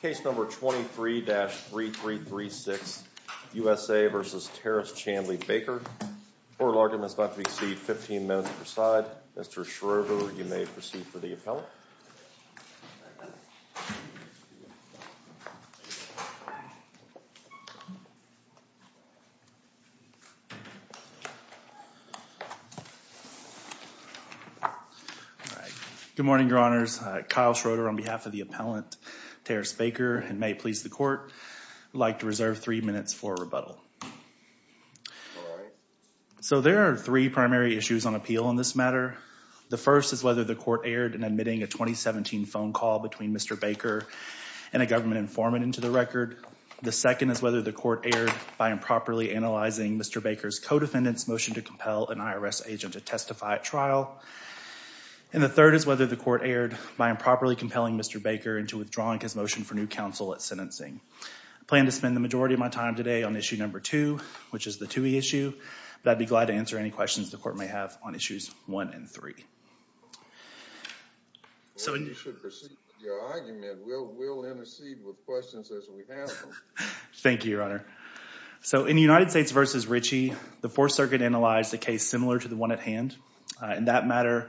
Case No. 23-3336, USA v. Terris Chandler Baker. Court of argument is about to proceed 15 minutes per side. Mr. Schroeder, you may proceed for the appellant. Good morning, your honors. Kyle Schroeder on behalf of the appellant, Terris Baker, and may it please the court, I'd like to reserve three minutes for rebuttal. So there are three primary issues on appeal on this matter. The first is whether the court erred in admitting a 2017 phone call between Mr. Baker and a government informant into the record. The second is whether the court erred by improperly analyzing Mr. Baker's co-defendant's motion to compel an IRS agent to testify at trial. And the third is whether the court erred by improperly compelling Mr. Baker into withdrawing his motion for new counsel at sentencing. I plan to spend the majority of my time today on issue number two, which is the Toohey issue, but I'd be glad to answer any questions the court may have on issues one and three. You should proceed with your argument. We'll intercede with questions as we have them. Thank you, your honor. So in the United States v. Ritchie, the Fourth Circuit analyzed a case similar to the one at hand. In that matter,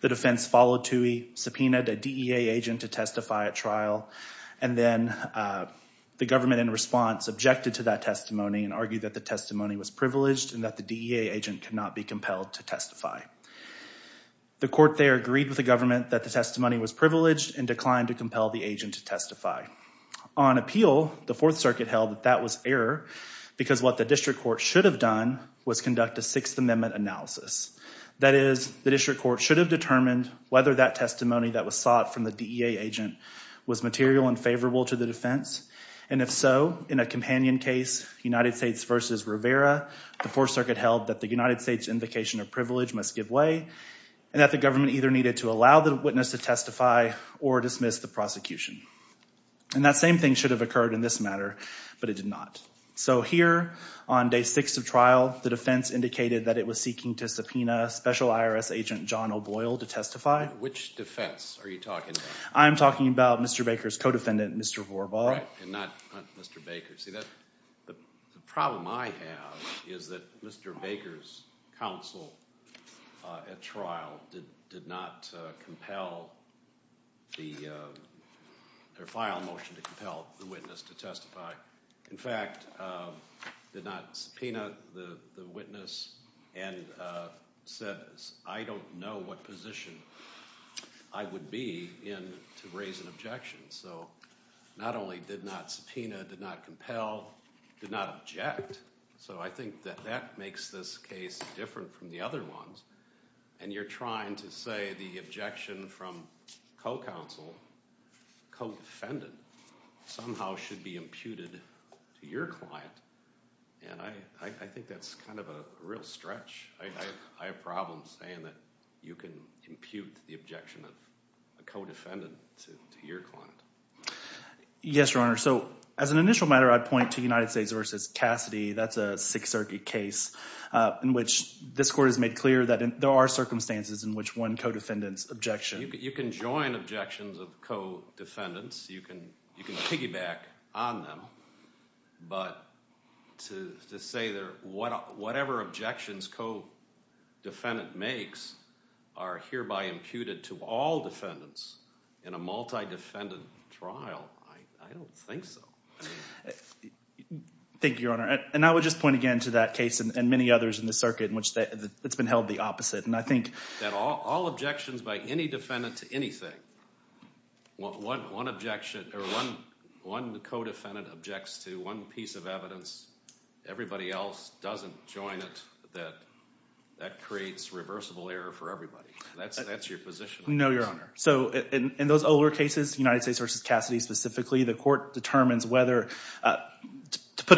the defense followed Toohey, subpoenaed a DEA agent to testify at trial, and then the government in response objected to that testimony and argued that the testimony was privileged and that the DEA agent could not be compelled to testify. The court there agreed with the government that the testimony was privileged and declined to compel the agent to testify. On appeal, the Fourth Circuit held that that was error because what the district court should have done was conduct a Sixth Amendment analysis. That is, the district court should have determined whether that testimony that was sought from the DEA agent was material and favorable to the defense, and if so, in a companion case, United States v. Rivera, the Fourth Circuit held that the United States' invocation of privilege must give way and that the government either needed to allow the witness to testify or dismiss the prosecution. And that same thing should have occurred in this matter, but it did not. So here on day six of trial, the defense indicated that it was seeking to subpoena Special IRS Agent John O'Boyle to testify. Which defense are you talking about? I'm talking about Mr. Baker's co-defendant, Mr. Vorbal. Correct, and not Mr. Baker. See, the problem I have is that Mr. Baker's counsel at trial did not compel the – or file a motion to compel the witness to testify. In fact, did not subpoena the witness and said, I don't know what position I would be in to raise an objection. So not only did not subpoena, did not compel, did not object. So I think that that makes this case different from the other ones, and you're trying to say the objection from co-counsel, co-defendant, somehow should be imputed to your client, and I think that's kind of a real stretch. I have problems saying that you can impute the objection of a co-defendant to your client. Yes, Your Honor. So as an initial matter, I'd point to United States v. Cassidy. That's a Sixth Circuit case in which this court has made clear that there are circumstances in which one co-defendant's objection – You can join objections of co-defendants. You can piggyback on them. But to say that whatever objections co-defendant makes are hereby imputed to all defendants in a multi-defendant trial, I don't think so. Thank you, Your Honor. And I would just point again to that case and many others in this circuit in which it's been held the opposite. That all objections by any defendant to anything, one co-defendant objects to one piece of evidence, everybody else doesn't join it, that creates reversible error for everybody. That's your position. No, Your Honor. So in those older cases, United States v. Cassidy specifically, the court determines whether – for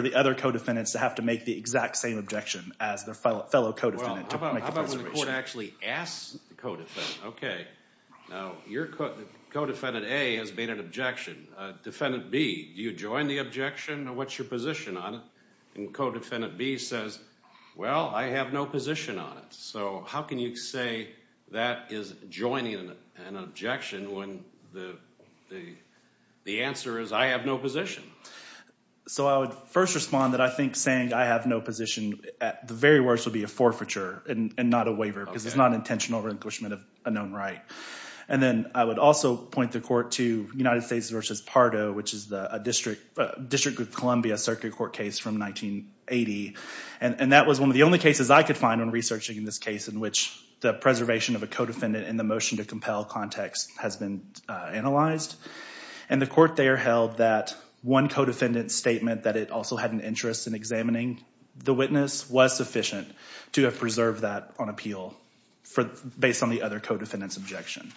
the other co-defendants to have to make the exact same objection as their fellow co-defendant. Well, how about when the court actually asks the co-defendant, okay. Now your co-defendant A has made an objection. Defendant B, do you join the objection? What's your position on it? And co-defendant B says, well, I have no position on it. So how can you say that is joining an objection when the answer is I have no position? So I would first respond that I think saying I have no position at the very worst would be a forfeiture and not a waiver because it's not intentional relinquishment of a known right. And then I would also point the court to United States v. Pardo, which is a District of Columbia circuit court case from 1980. And that was one of the only cases I could find when researching this case in which the preservation of a co-defendant in the motion to compel context has been analyzed. And the court there held that one co-defendant's statement that it also had an interest in examining the witness was sufficient to have preserved that on appeal based on the other co-defendant's objection.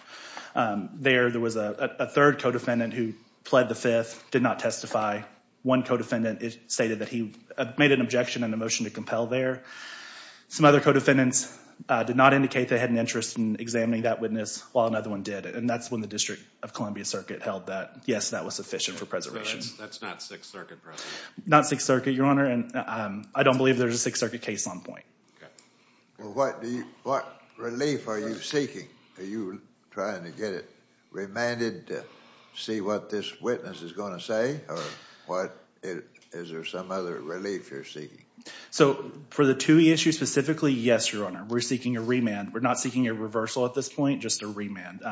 There, there was a third co-defendant who pled the fifth, did not testify. One co-defendant stated that he made an objection in the motion to compel there. Some other co-defendants did not indicate they had an interest in examining that witness, while another one did. And that's when the District of Columbia circuit held that, yes, that was sufficient for preservation. That's not Sixth Circuit preservation? Not Sixth Circuit, Your Honor, and I don't believe there's a Sixth Circuit case on point. Okay. What relief are you seeking? Are you trying to get it remanded to see what this witness is going to say? Or what, is there some other relief you're seeking? So, for the TUI issue specifically, yes, Your Honor. We're seeking a remand. We're not seeking a reversal at this point, just a remand.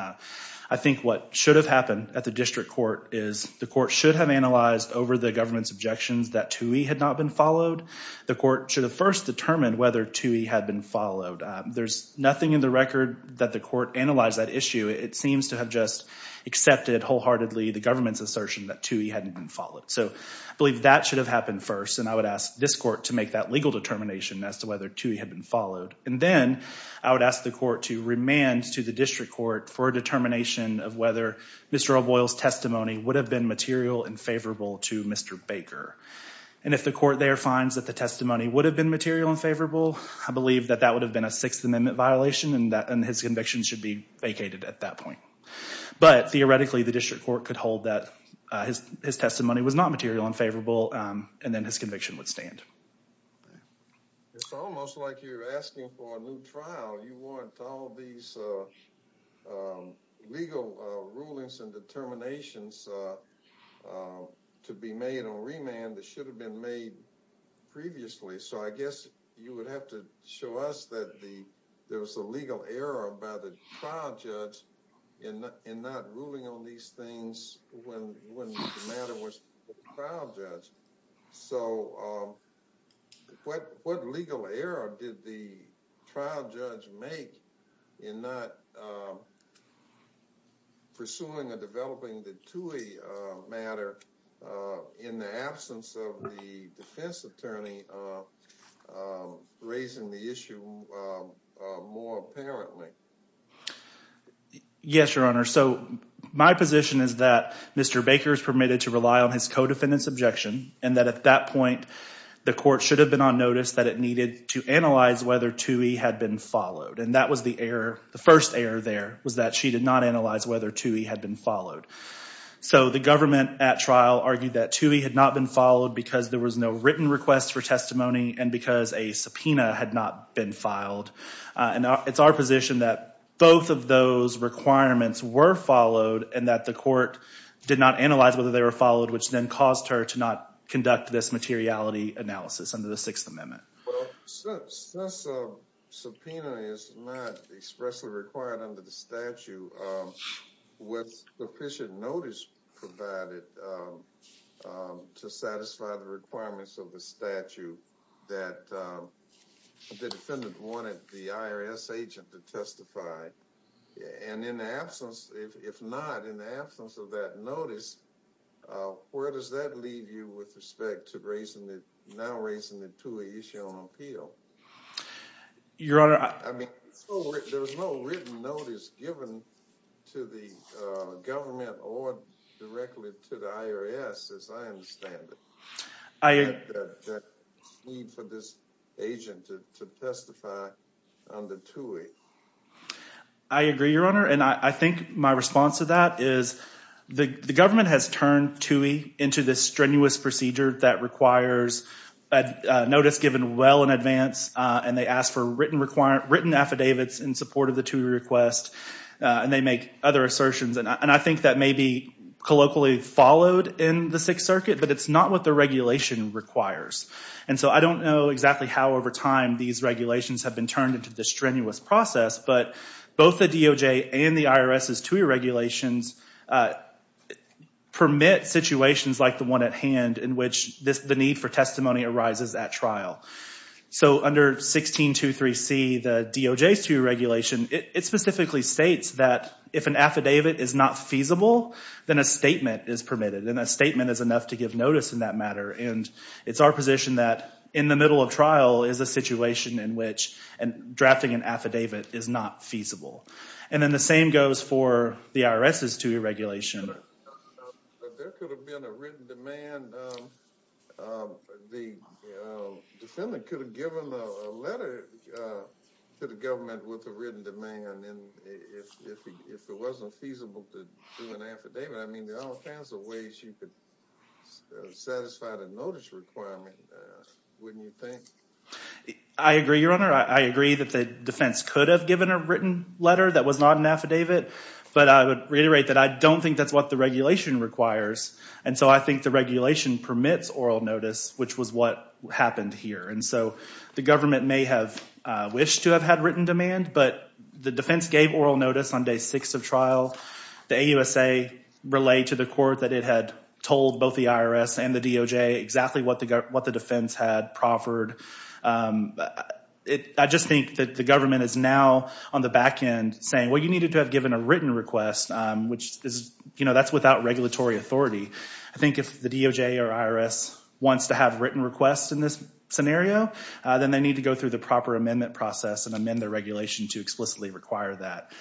I think what should have happened at the district court is the court should have analyzed over the government's objections that TUI had not been followed. The court should have first determined whether TUI had been followed. There's nothing in the record that the court analyzed that issue. It seems to have just accepted wholeheartedly the government's assertion that TUI hadn't been followed. So, I believe that should have happened first, and I would ask this court to make that legal determination as to whether TUI had been followed. And then, I would ask the court to remand to the district court for a determination of whether Mr. O'Boyle's testimony would have been material and favorable to Mr. Baker. And if the court there finds that the testimony would have been material and favorable, I believe that that would have been a Sixth Amendment violation, and his conviction should be vacated at that point. But, theoretically, the district court could hold that his testimony was not material and favorable, and then his conviction would stand. It's almost like you're asking for a new trial. You want all these legal rulings and determinations to be made on remand that should have been made previously. So, I guess you would have to show us that there was a legal error by the trial judge in not ruling on these things when the matter was with the trial judge. So, what legal error did the trial judge make in not pursuing or developing the TUI matter in the absence of the defense attorney raising the issue more apparently? Yes, Your Honor. So, my position is that Mr. Baker is permitted to rely on his co-defendant's objection, and that at that point the court should have been on notice that it needed to analyze whether TUI had been followed. And that was the error. The first error there was that she did not analyze whether TUI had been followed. So, the government at trial argued that TUI had not been followed because there was no written request for testimony and because a subpoena had not been filed. And it's our position that both of those requirements were followed and that the court did not analyze whether they were followed, which then caused her to not conduct this materiality analysis under the Sixth Amendment. Well, since a subpoena is not expressly required under the statute, with sufficient notice provided to satisfy the requirements of the statute, that the defendant wanted the IRS agent to testify. And in the absence, if not, in the absence of that notice, where does that leave you with respect to now raising the TUI issue on appeal? Your Honor, I... I mean, there was no written notice given to the government or directly to the IRS, as I understand it. There's no need for this agent to testify under TUI. I agree, Your Honor. And I think my response to that is the government has turned TUI into this strenuous procedure that requires a notice given well in advance, and they ask for written affidavits in support of the TUI request, and they make other assertions. And I think that may be colloquially followed in the Sixth Circuit, but it's not what the regulation requires. And so I don't know exactly how over time these regulations have been turned into this strenuous process, but both the DOJ and the IRS's TUI regulations permit situations like the one at hand in which the need for testimony arises at trial. So under 1623C, the DOJ's TUI regulation, it specifically states that if an affidavit is not feasible, then a statement is permitted, and a statement is enough to give notice in that matter. And it's our position that in the middle of trial is a situation in which drafting an affidavit is not feasible. And then the same goes for the IRS's TUI regulation. But there could have been a written demand. The defendant could have given a letter to the government with a written demand, and if it wasn't feasible to do an affidavit, I mean, there are all kinds of ways you could satisfy the notice requirement, wouldn't you think? I agree, Your Honor. I agree that the defense could have given a written letter that was not an affidavit, but I would reiterate that I don't think that's what the regulation requires. And so I think the regulation permits oral notice, which was what happened here. And so the government may have wished to have had written demand, but the defense gave oral notice on day six of trial. The AUSA relayed to the court that it had told both the IRS and the DOJ exactly what the defense had proffered. I just think that the government is now on the back end saying, well, you needed to have given a written request, which is, you know, that's without regulatory authority. I think if the DOJ or IRS wants to have written requests in this scenario, then they need to go through the proper amendment process and amend the regulation to explicitly require that.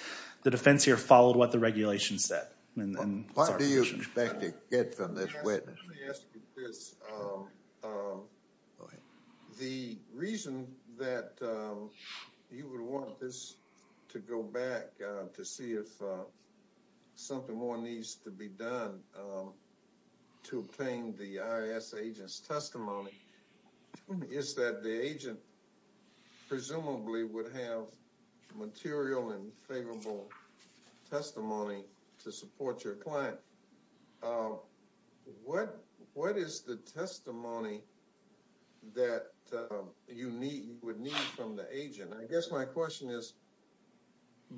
The defense here followed what the regulation said. What do you expect to get from this witness? The reason that you would want this to go back to see if something more needs to be done to obtain the IRS agent's testimony is that the agent presumably would have material and favorable testimony to support your client. What is the testimony that you would need from the agent? I guess my question is,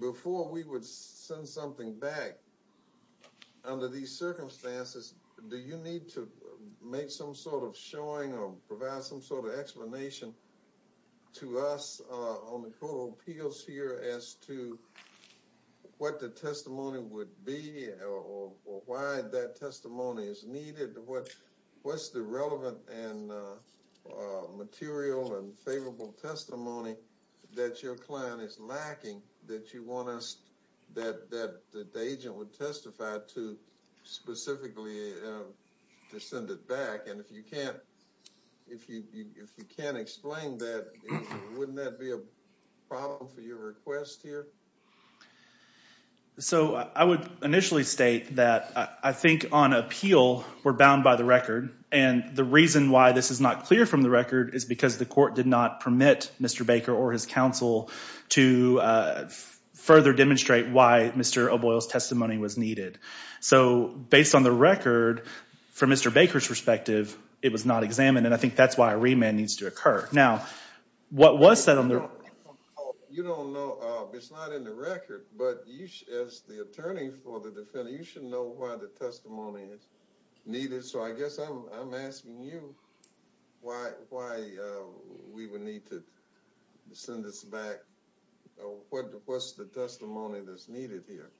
before we would send something back under these circumstances, do you need to make some sort of showing or provide some sort of explanation to us on the court of appeals here as to what the testimony would be or why that testimony is needed? What's the relevant and material and favorable testimony that your client is lacking that the agent would testify to specifically to send it back? And if you can't explain that, wouldn't that be a problem for your request here? So I would initially state that I think on appeal, we're bound by the record. And the reason why this is not clear from the record is because the court did not permit Mr. Baker or his counsel to further demonstrate why Mr. O'Boyle's testimony was needed. So based on the record, from Mr. Baker's perspective, it was not examined. And I think that's why a remand needs to occur. Now, what was said on the record? You don't know. It's not in the record. But as the attorney for the defendant, you should know why the testimony is needed. So I guess I'm asking you why we would need to send this back. What's the testimony that's needed here?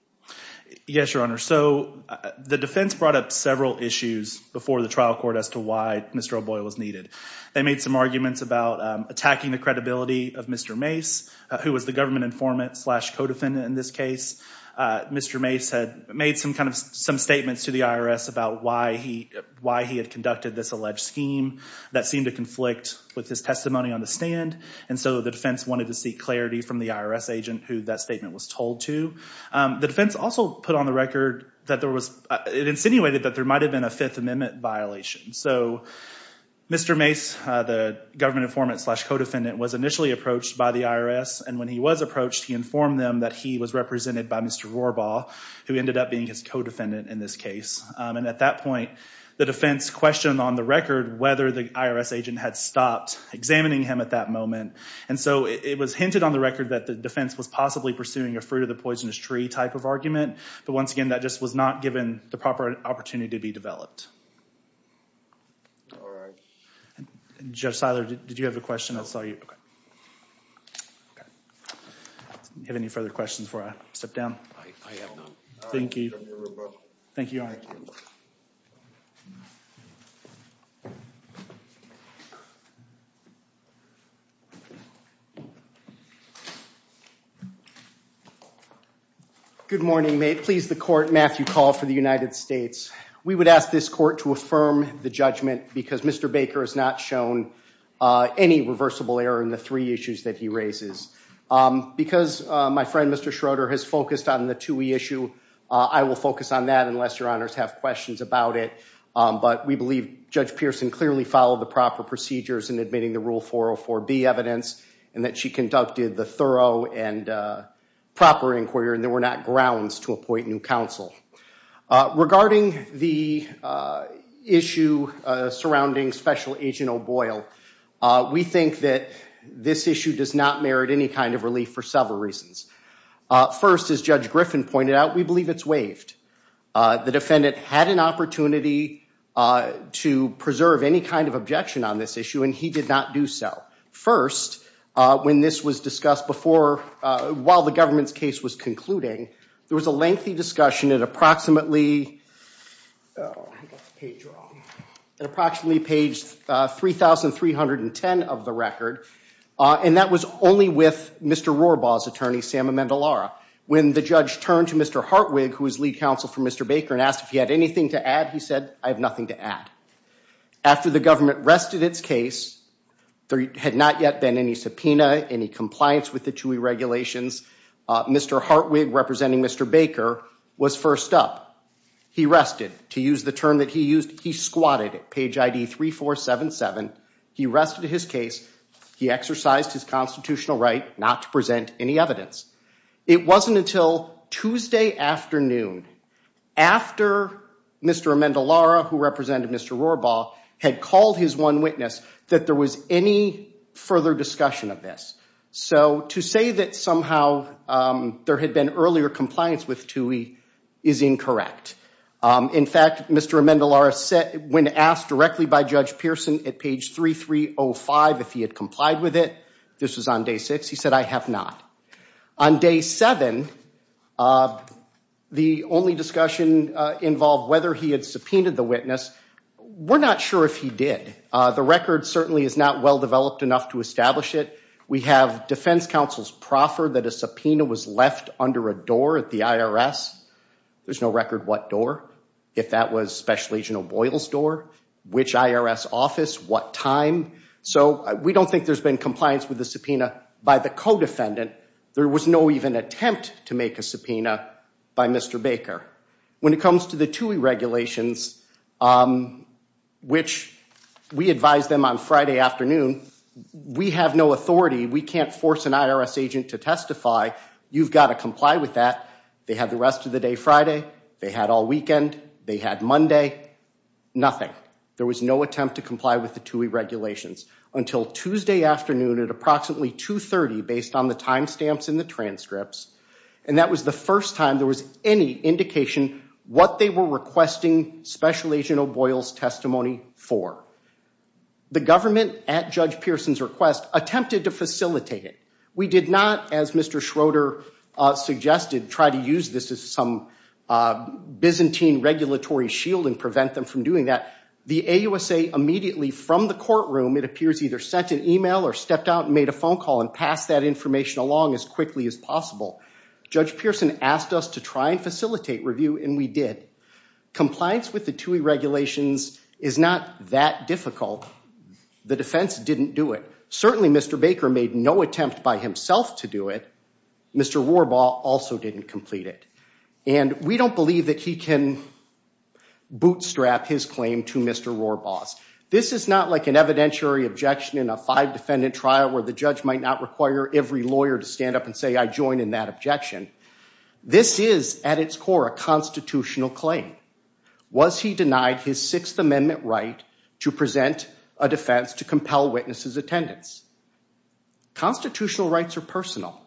Yes, Your Honor. So the defense brought up several issues before the trial court as to why Mr. O'Boyle was needed. They made some arguments about attacking the credibility of Mr. Mace, who was the government informant slash co-defendant in this case. Mr. Mace had made some statements to the IRS about why he had conducted this alleged scheme that seemed to conflict with his testimony on the stand. And so the defense wanted to seek clarity from the IRS agent who that statement was told to. The defense also put on the record that there was—it insinuated that there might have been a Fifth Amendment violation. So Mr. Mace, the government informant slash co-defendant, was initially approached by the IRS. And when he was approached, he informed them that he was represented by Mr. Rohrbaugh, who ended up being his co-defendant in this case. And at that point, the defense questioned on the record whether the IRS agent had stopped examining him at that moment. And so it was hinted on the record that the defense was possibly pursuing a fruit-of-the-poisonous-tree type of argument. But once again, that just was not given the proper opportunity to be developed. All right. Judge Seiler, did you have a question? I saw you. Okay. Do you have any further questions before I step down? I have none. Thank you. Thank you, Your Honor. Good morning. May it please the Court, Matthew Call for the United States. We would ask this Court to affirm the judgment because Mr. Baker has not shown any reversible error in the three issues that he raises. Because my friend, Mr. Schroeder, has focused on the TUI issue, I will focus on that unless Your Honors have questions about it. But we believe Judge Pearson clearly followed the proper procedures in admitting the Rule 404B evidence and that she conducted the thorough and proper inquiry and there were not grounds to appoint new counsel. Regarding the issue surrounding Special Agent O'Boyle, we think that this issue does not merit any kind of relief for several reasons. First, as Judge Griffin pointed out, we believe it's waived. The defendant had an opportunity to preserve any kind of objection on this issue and he did not do so. First, when this was discussed before, while the government's case was concluding, there was a lengthy discussion at approximately page 3,310 of the record and that was only with Mr. Rohrbaugh's attorney, Sam Amendolara. When the judge turned to Mr. Hartwig, who was lead counsel for Mr. Baker, and asked if he had anything to add, he said, I have nothing to add. After the government rested its case, there had not yet been any subpoena, any compliance with the TUI regulations, Mr. Hartwig, representing Mr. Baker, was first up. He rested. To use the term that he used, he squatted it. Page ID 3477. He rested his case. He exercised his constitutional right not to present any evidence. It wasn't until Tuesday afternoon, after Mr. Amendolara, who represented Mr. Rohrbaugh, had called his one witness, that there was any further discussion of this. So to say that somehow there had been earlier compliance with TUI is incorrect. In fact, Mr. Amendolara, when asked directly by Judge Pearson at page 3305 if he had complied with it, this was on day six, he said, I have not. On day seven, the only discussion involved whether he had subpoenaed the witness. We're not sure if he did. The record certainly is not well developed enough to establish it. We have defense counsels proffer that a subpoena was left under a door at the IRS. There's no record what door, if that was Special Agent O'Boyle's door, which IRS office, what time. So we don't think there's been compliance with the subpoena by the co-defendant. There was no even attempt to make a subpoena by Mr. Baker. When it comes to the TUI regulations, which we advised them on Friday afternoon, we have no authority. We can't force an IRS agent to testify. You've got to comply with that. They had the rest of the day Friday. They had all weekend. They had Monday. Nothing. There was no attempt to comply with the TUI regulations until Tuesday afternoon at approximately 2.30, based on the time stamps in the transcripts. And that was the first time there was any indication what they were requesting Special Agent O'Boyle's testimony for. The government, at Judge Pearson's request, attempted to facilitate it. We did not, as Mr. Schroeder suggested, try to use this as some Byzantine regulatory shield and prevent them from doing that. The AUSA immediately from the courtroom, it appears, either sent an email or stepped out and made a phone call and passed that information along as quickly as possible. Judge Pearson asked us to try and facilitate review, and we did. Compliance with the TUI regulations is not that difficult. The defense didn't do it. Certainly, Mr. Baker made no attempt by himself to do it. Mr. Warbaugh also didn't complete it. And we don't believe that he can bootstrap his claim to Mr. Warbaugh's. This is not like an evidentiary objection in a five-defendant trial where the judge might not require every lawyer to stand up and say, I join in that objection. This is, at its core, a constitutional claim. Was he denied his Sixth Amendment right to present a defense to compel witnesses' attendance? Constitutional rights are personal.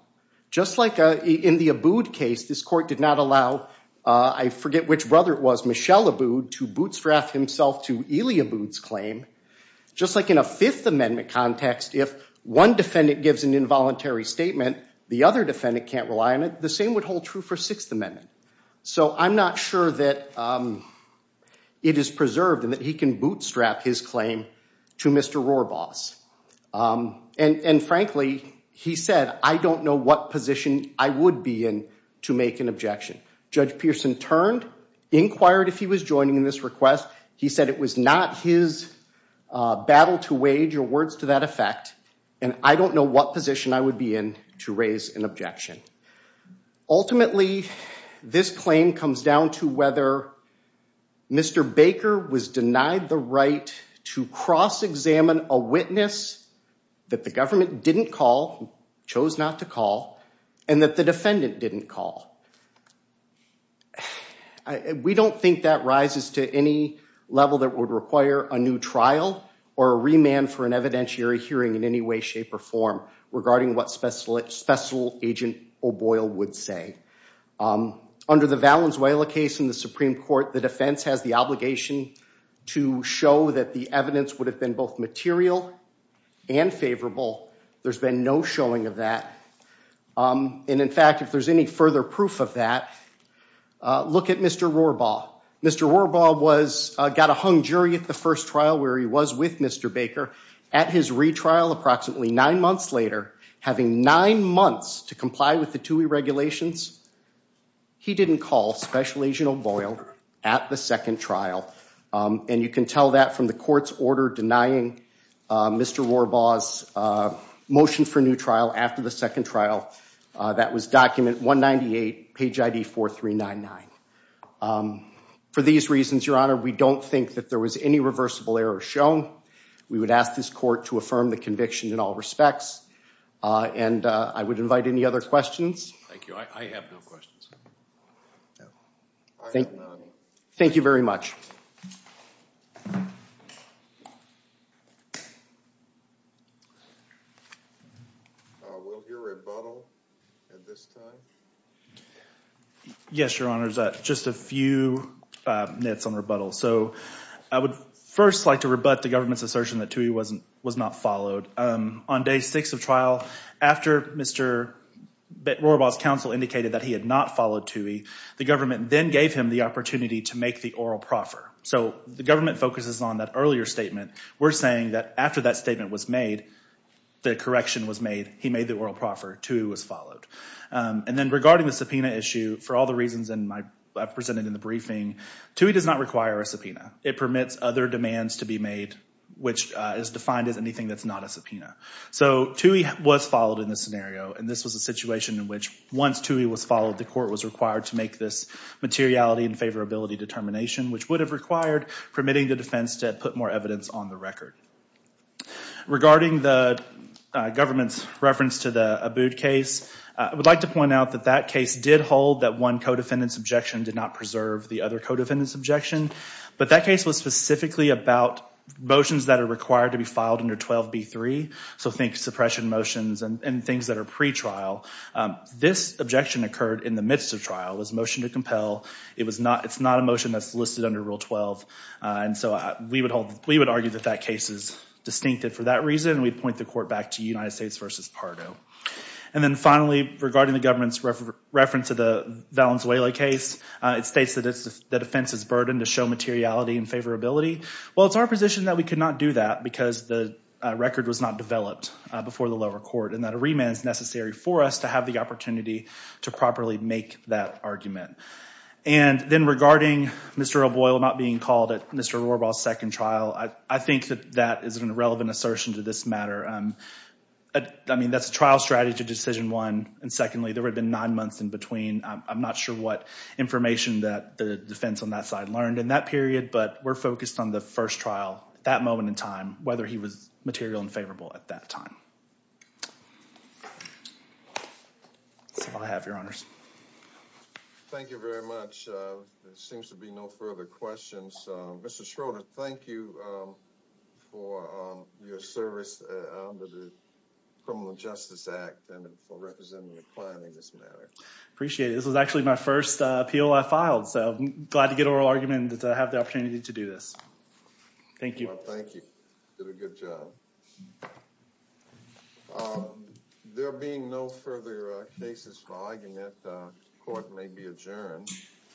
Just like in the Abood case, this court did not allow, I forget which brother it was, Michelle Abood, to bootstrap himself to Elie Abood's claim. Just like in a Fifth Amendment context, if one defendant gives an involuntary statement, the other defendant can't rely on it, the same would hold true for Sixth Amendment. So I'm not sure that it is preserved and that he can bootstrap his claim to Mr. Warbaugh's. And frankly, he said, I don't know what position I would be in to make an objection. Judge Pearson turned, inquired if he was joining in this request. He said it was not his battle to wage or words to that effect. And I don't know what position I would be in to raise an objection. Ultimately, this claim comes down to whether Mr. Baker was denied the right to cross-examine a witness that the government didn't call, chose not to call, and that the defendant didn't call. We don't think that rises to any level that would require a new trial or a remand for an evidentiary hearing in any way, shape, or form regarding what Special Agent O'Boyle would say. Under the Valenzuela case in the Supreme Court, the defense has the obligation to show that the evidence would have been both material and favorable. There's been no showing of that. And in fact, if there's any further proof of that, look at Mr. Warbaugh. Mr. Warbaugh got a hung jury at the first trial where he was with Mr. Baker. At his retrial approximately nine months later, having nine months to comply with the TUI regulations, he didn't call Special Agent O'Boyle at the second trial. And you can tell that from the court's order denying Mr. Warbaugh's motion for new trial after the second trial. That was document 198, page ID 4399. For these reasons, Your Honor, we don't think that there was any reversible error shown. We would ask this court to affirm the conviction in all respects. And I would invite any other questions. Thank you. I have no questions. Thank you very much. We'll hear rebuttal at this time. Yes, Your Honor, just a few minutes on rebuttal. So I would first like to rebut the government's assertion that TUI was not followed. On day six of trial, after Mr. Warbaugh's counsel indicated that he had not followed TUI, the government then gave him the opportunity to make the oral proffer. So the government focuses on that earlier statement. We're saying that after that statement was made, the correction was made. He made the oral proffer. TUI was followed. And then regarding the subpoena issue, for all the reasons I presented in the briefing, TUI does not require a subpoena. It permits other demands to be made, which is defined as anything that's not a subpoena. So TUI was followed in this scenario. And this was a situation in which once TUI was followed, the court was required to make this materiality and favorability determination, which would have required permitting the defense to put more evidence on the record. Regarding the government's reference to the Abood case, I would like to point out that that case did hold that one co-defendant's objection did not preserve the other co-defendant's objection. But that case was specifically about motions that are required to be filed under 12b-3. So think suppression motions and things that are pretrial. This objection occurred in the midst of trial. It was a motion to compel. It's not a motion that's listed under Rule 12. And so we would argue that that case is distinctive for that reason. We'd point the court back to United States v. Pardo. And then finally, regarding the government's reference to the Valenzuela case, it states that it's the defense's burden to show materiality and favorability. Well, it's our position that we could not do that because the record was not developed before the lower court and that a remand is necessary for us to have the opportunity to properly make that argument. And then regarding Mr. O'Boyle not being called at Mr. O'Rourbaugh's second trial, I think that that is an irrelevant assertion to this matter. I mean, that's a trial strategy decision one. And secondly, there had been nine months in between. I'm not sure what information that the defense on that side learned in that period, but we're focused on the first trial, that moment in time, whether he was material and favorable at that time. That's all I have, Your Honors. Thank you very much. There seems to be no further questions. Mr. Schroeder, thank you for your service under the Criminal Justice Act and for representing the client in this matter. Appreciate it. This was actually my first appeal I filed, so I'm glad to get an oral argument and to have the opportunity to do this. Thank you. Thank you. You did a good job. There being no further cases, the argument court may be adjourned.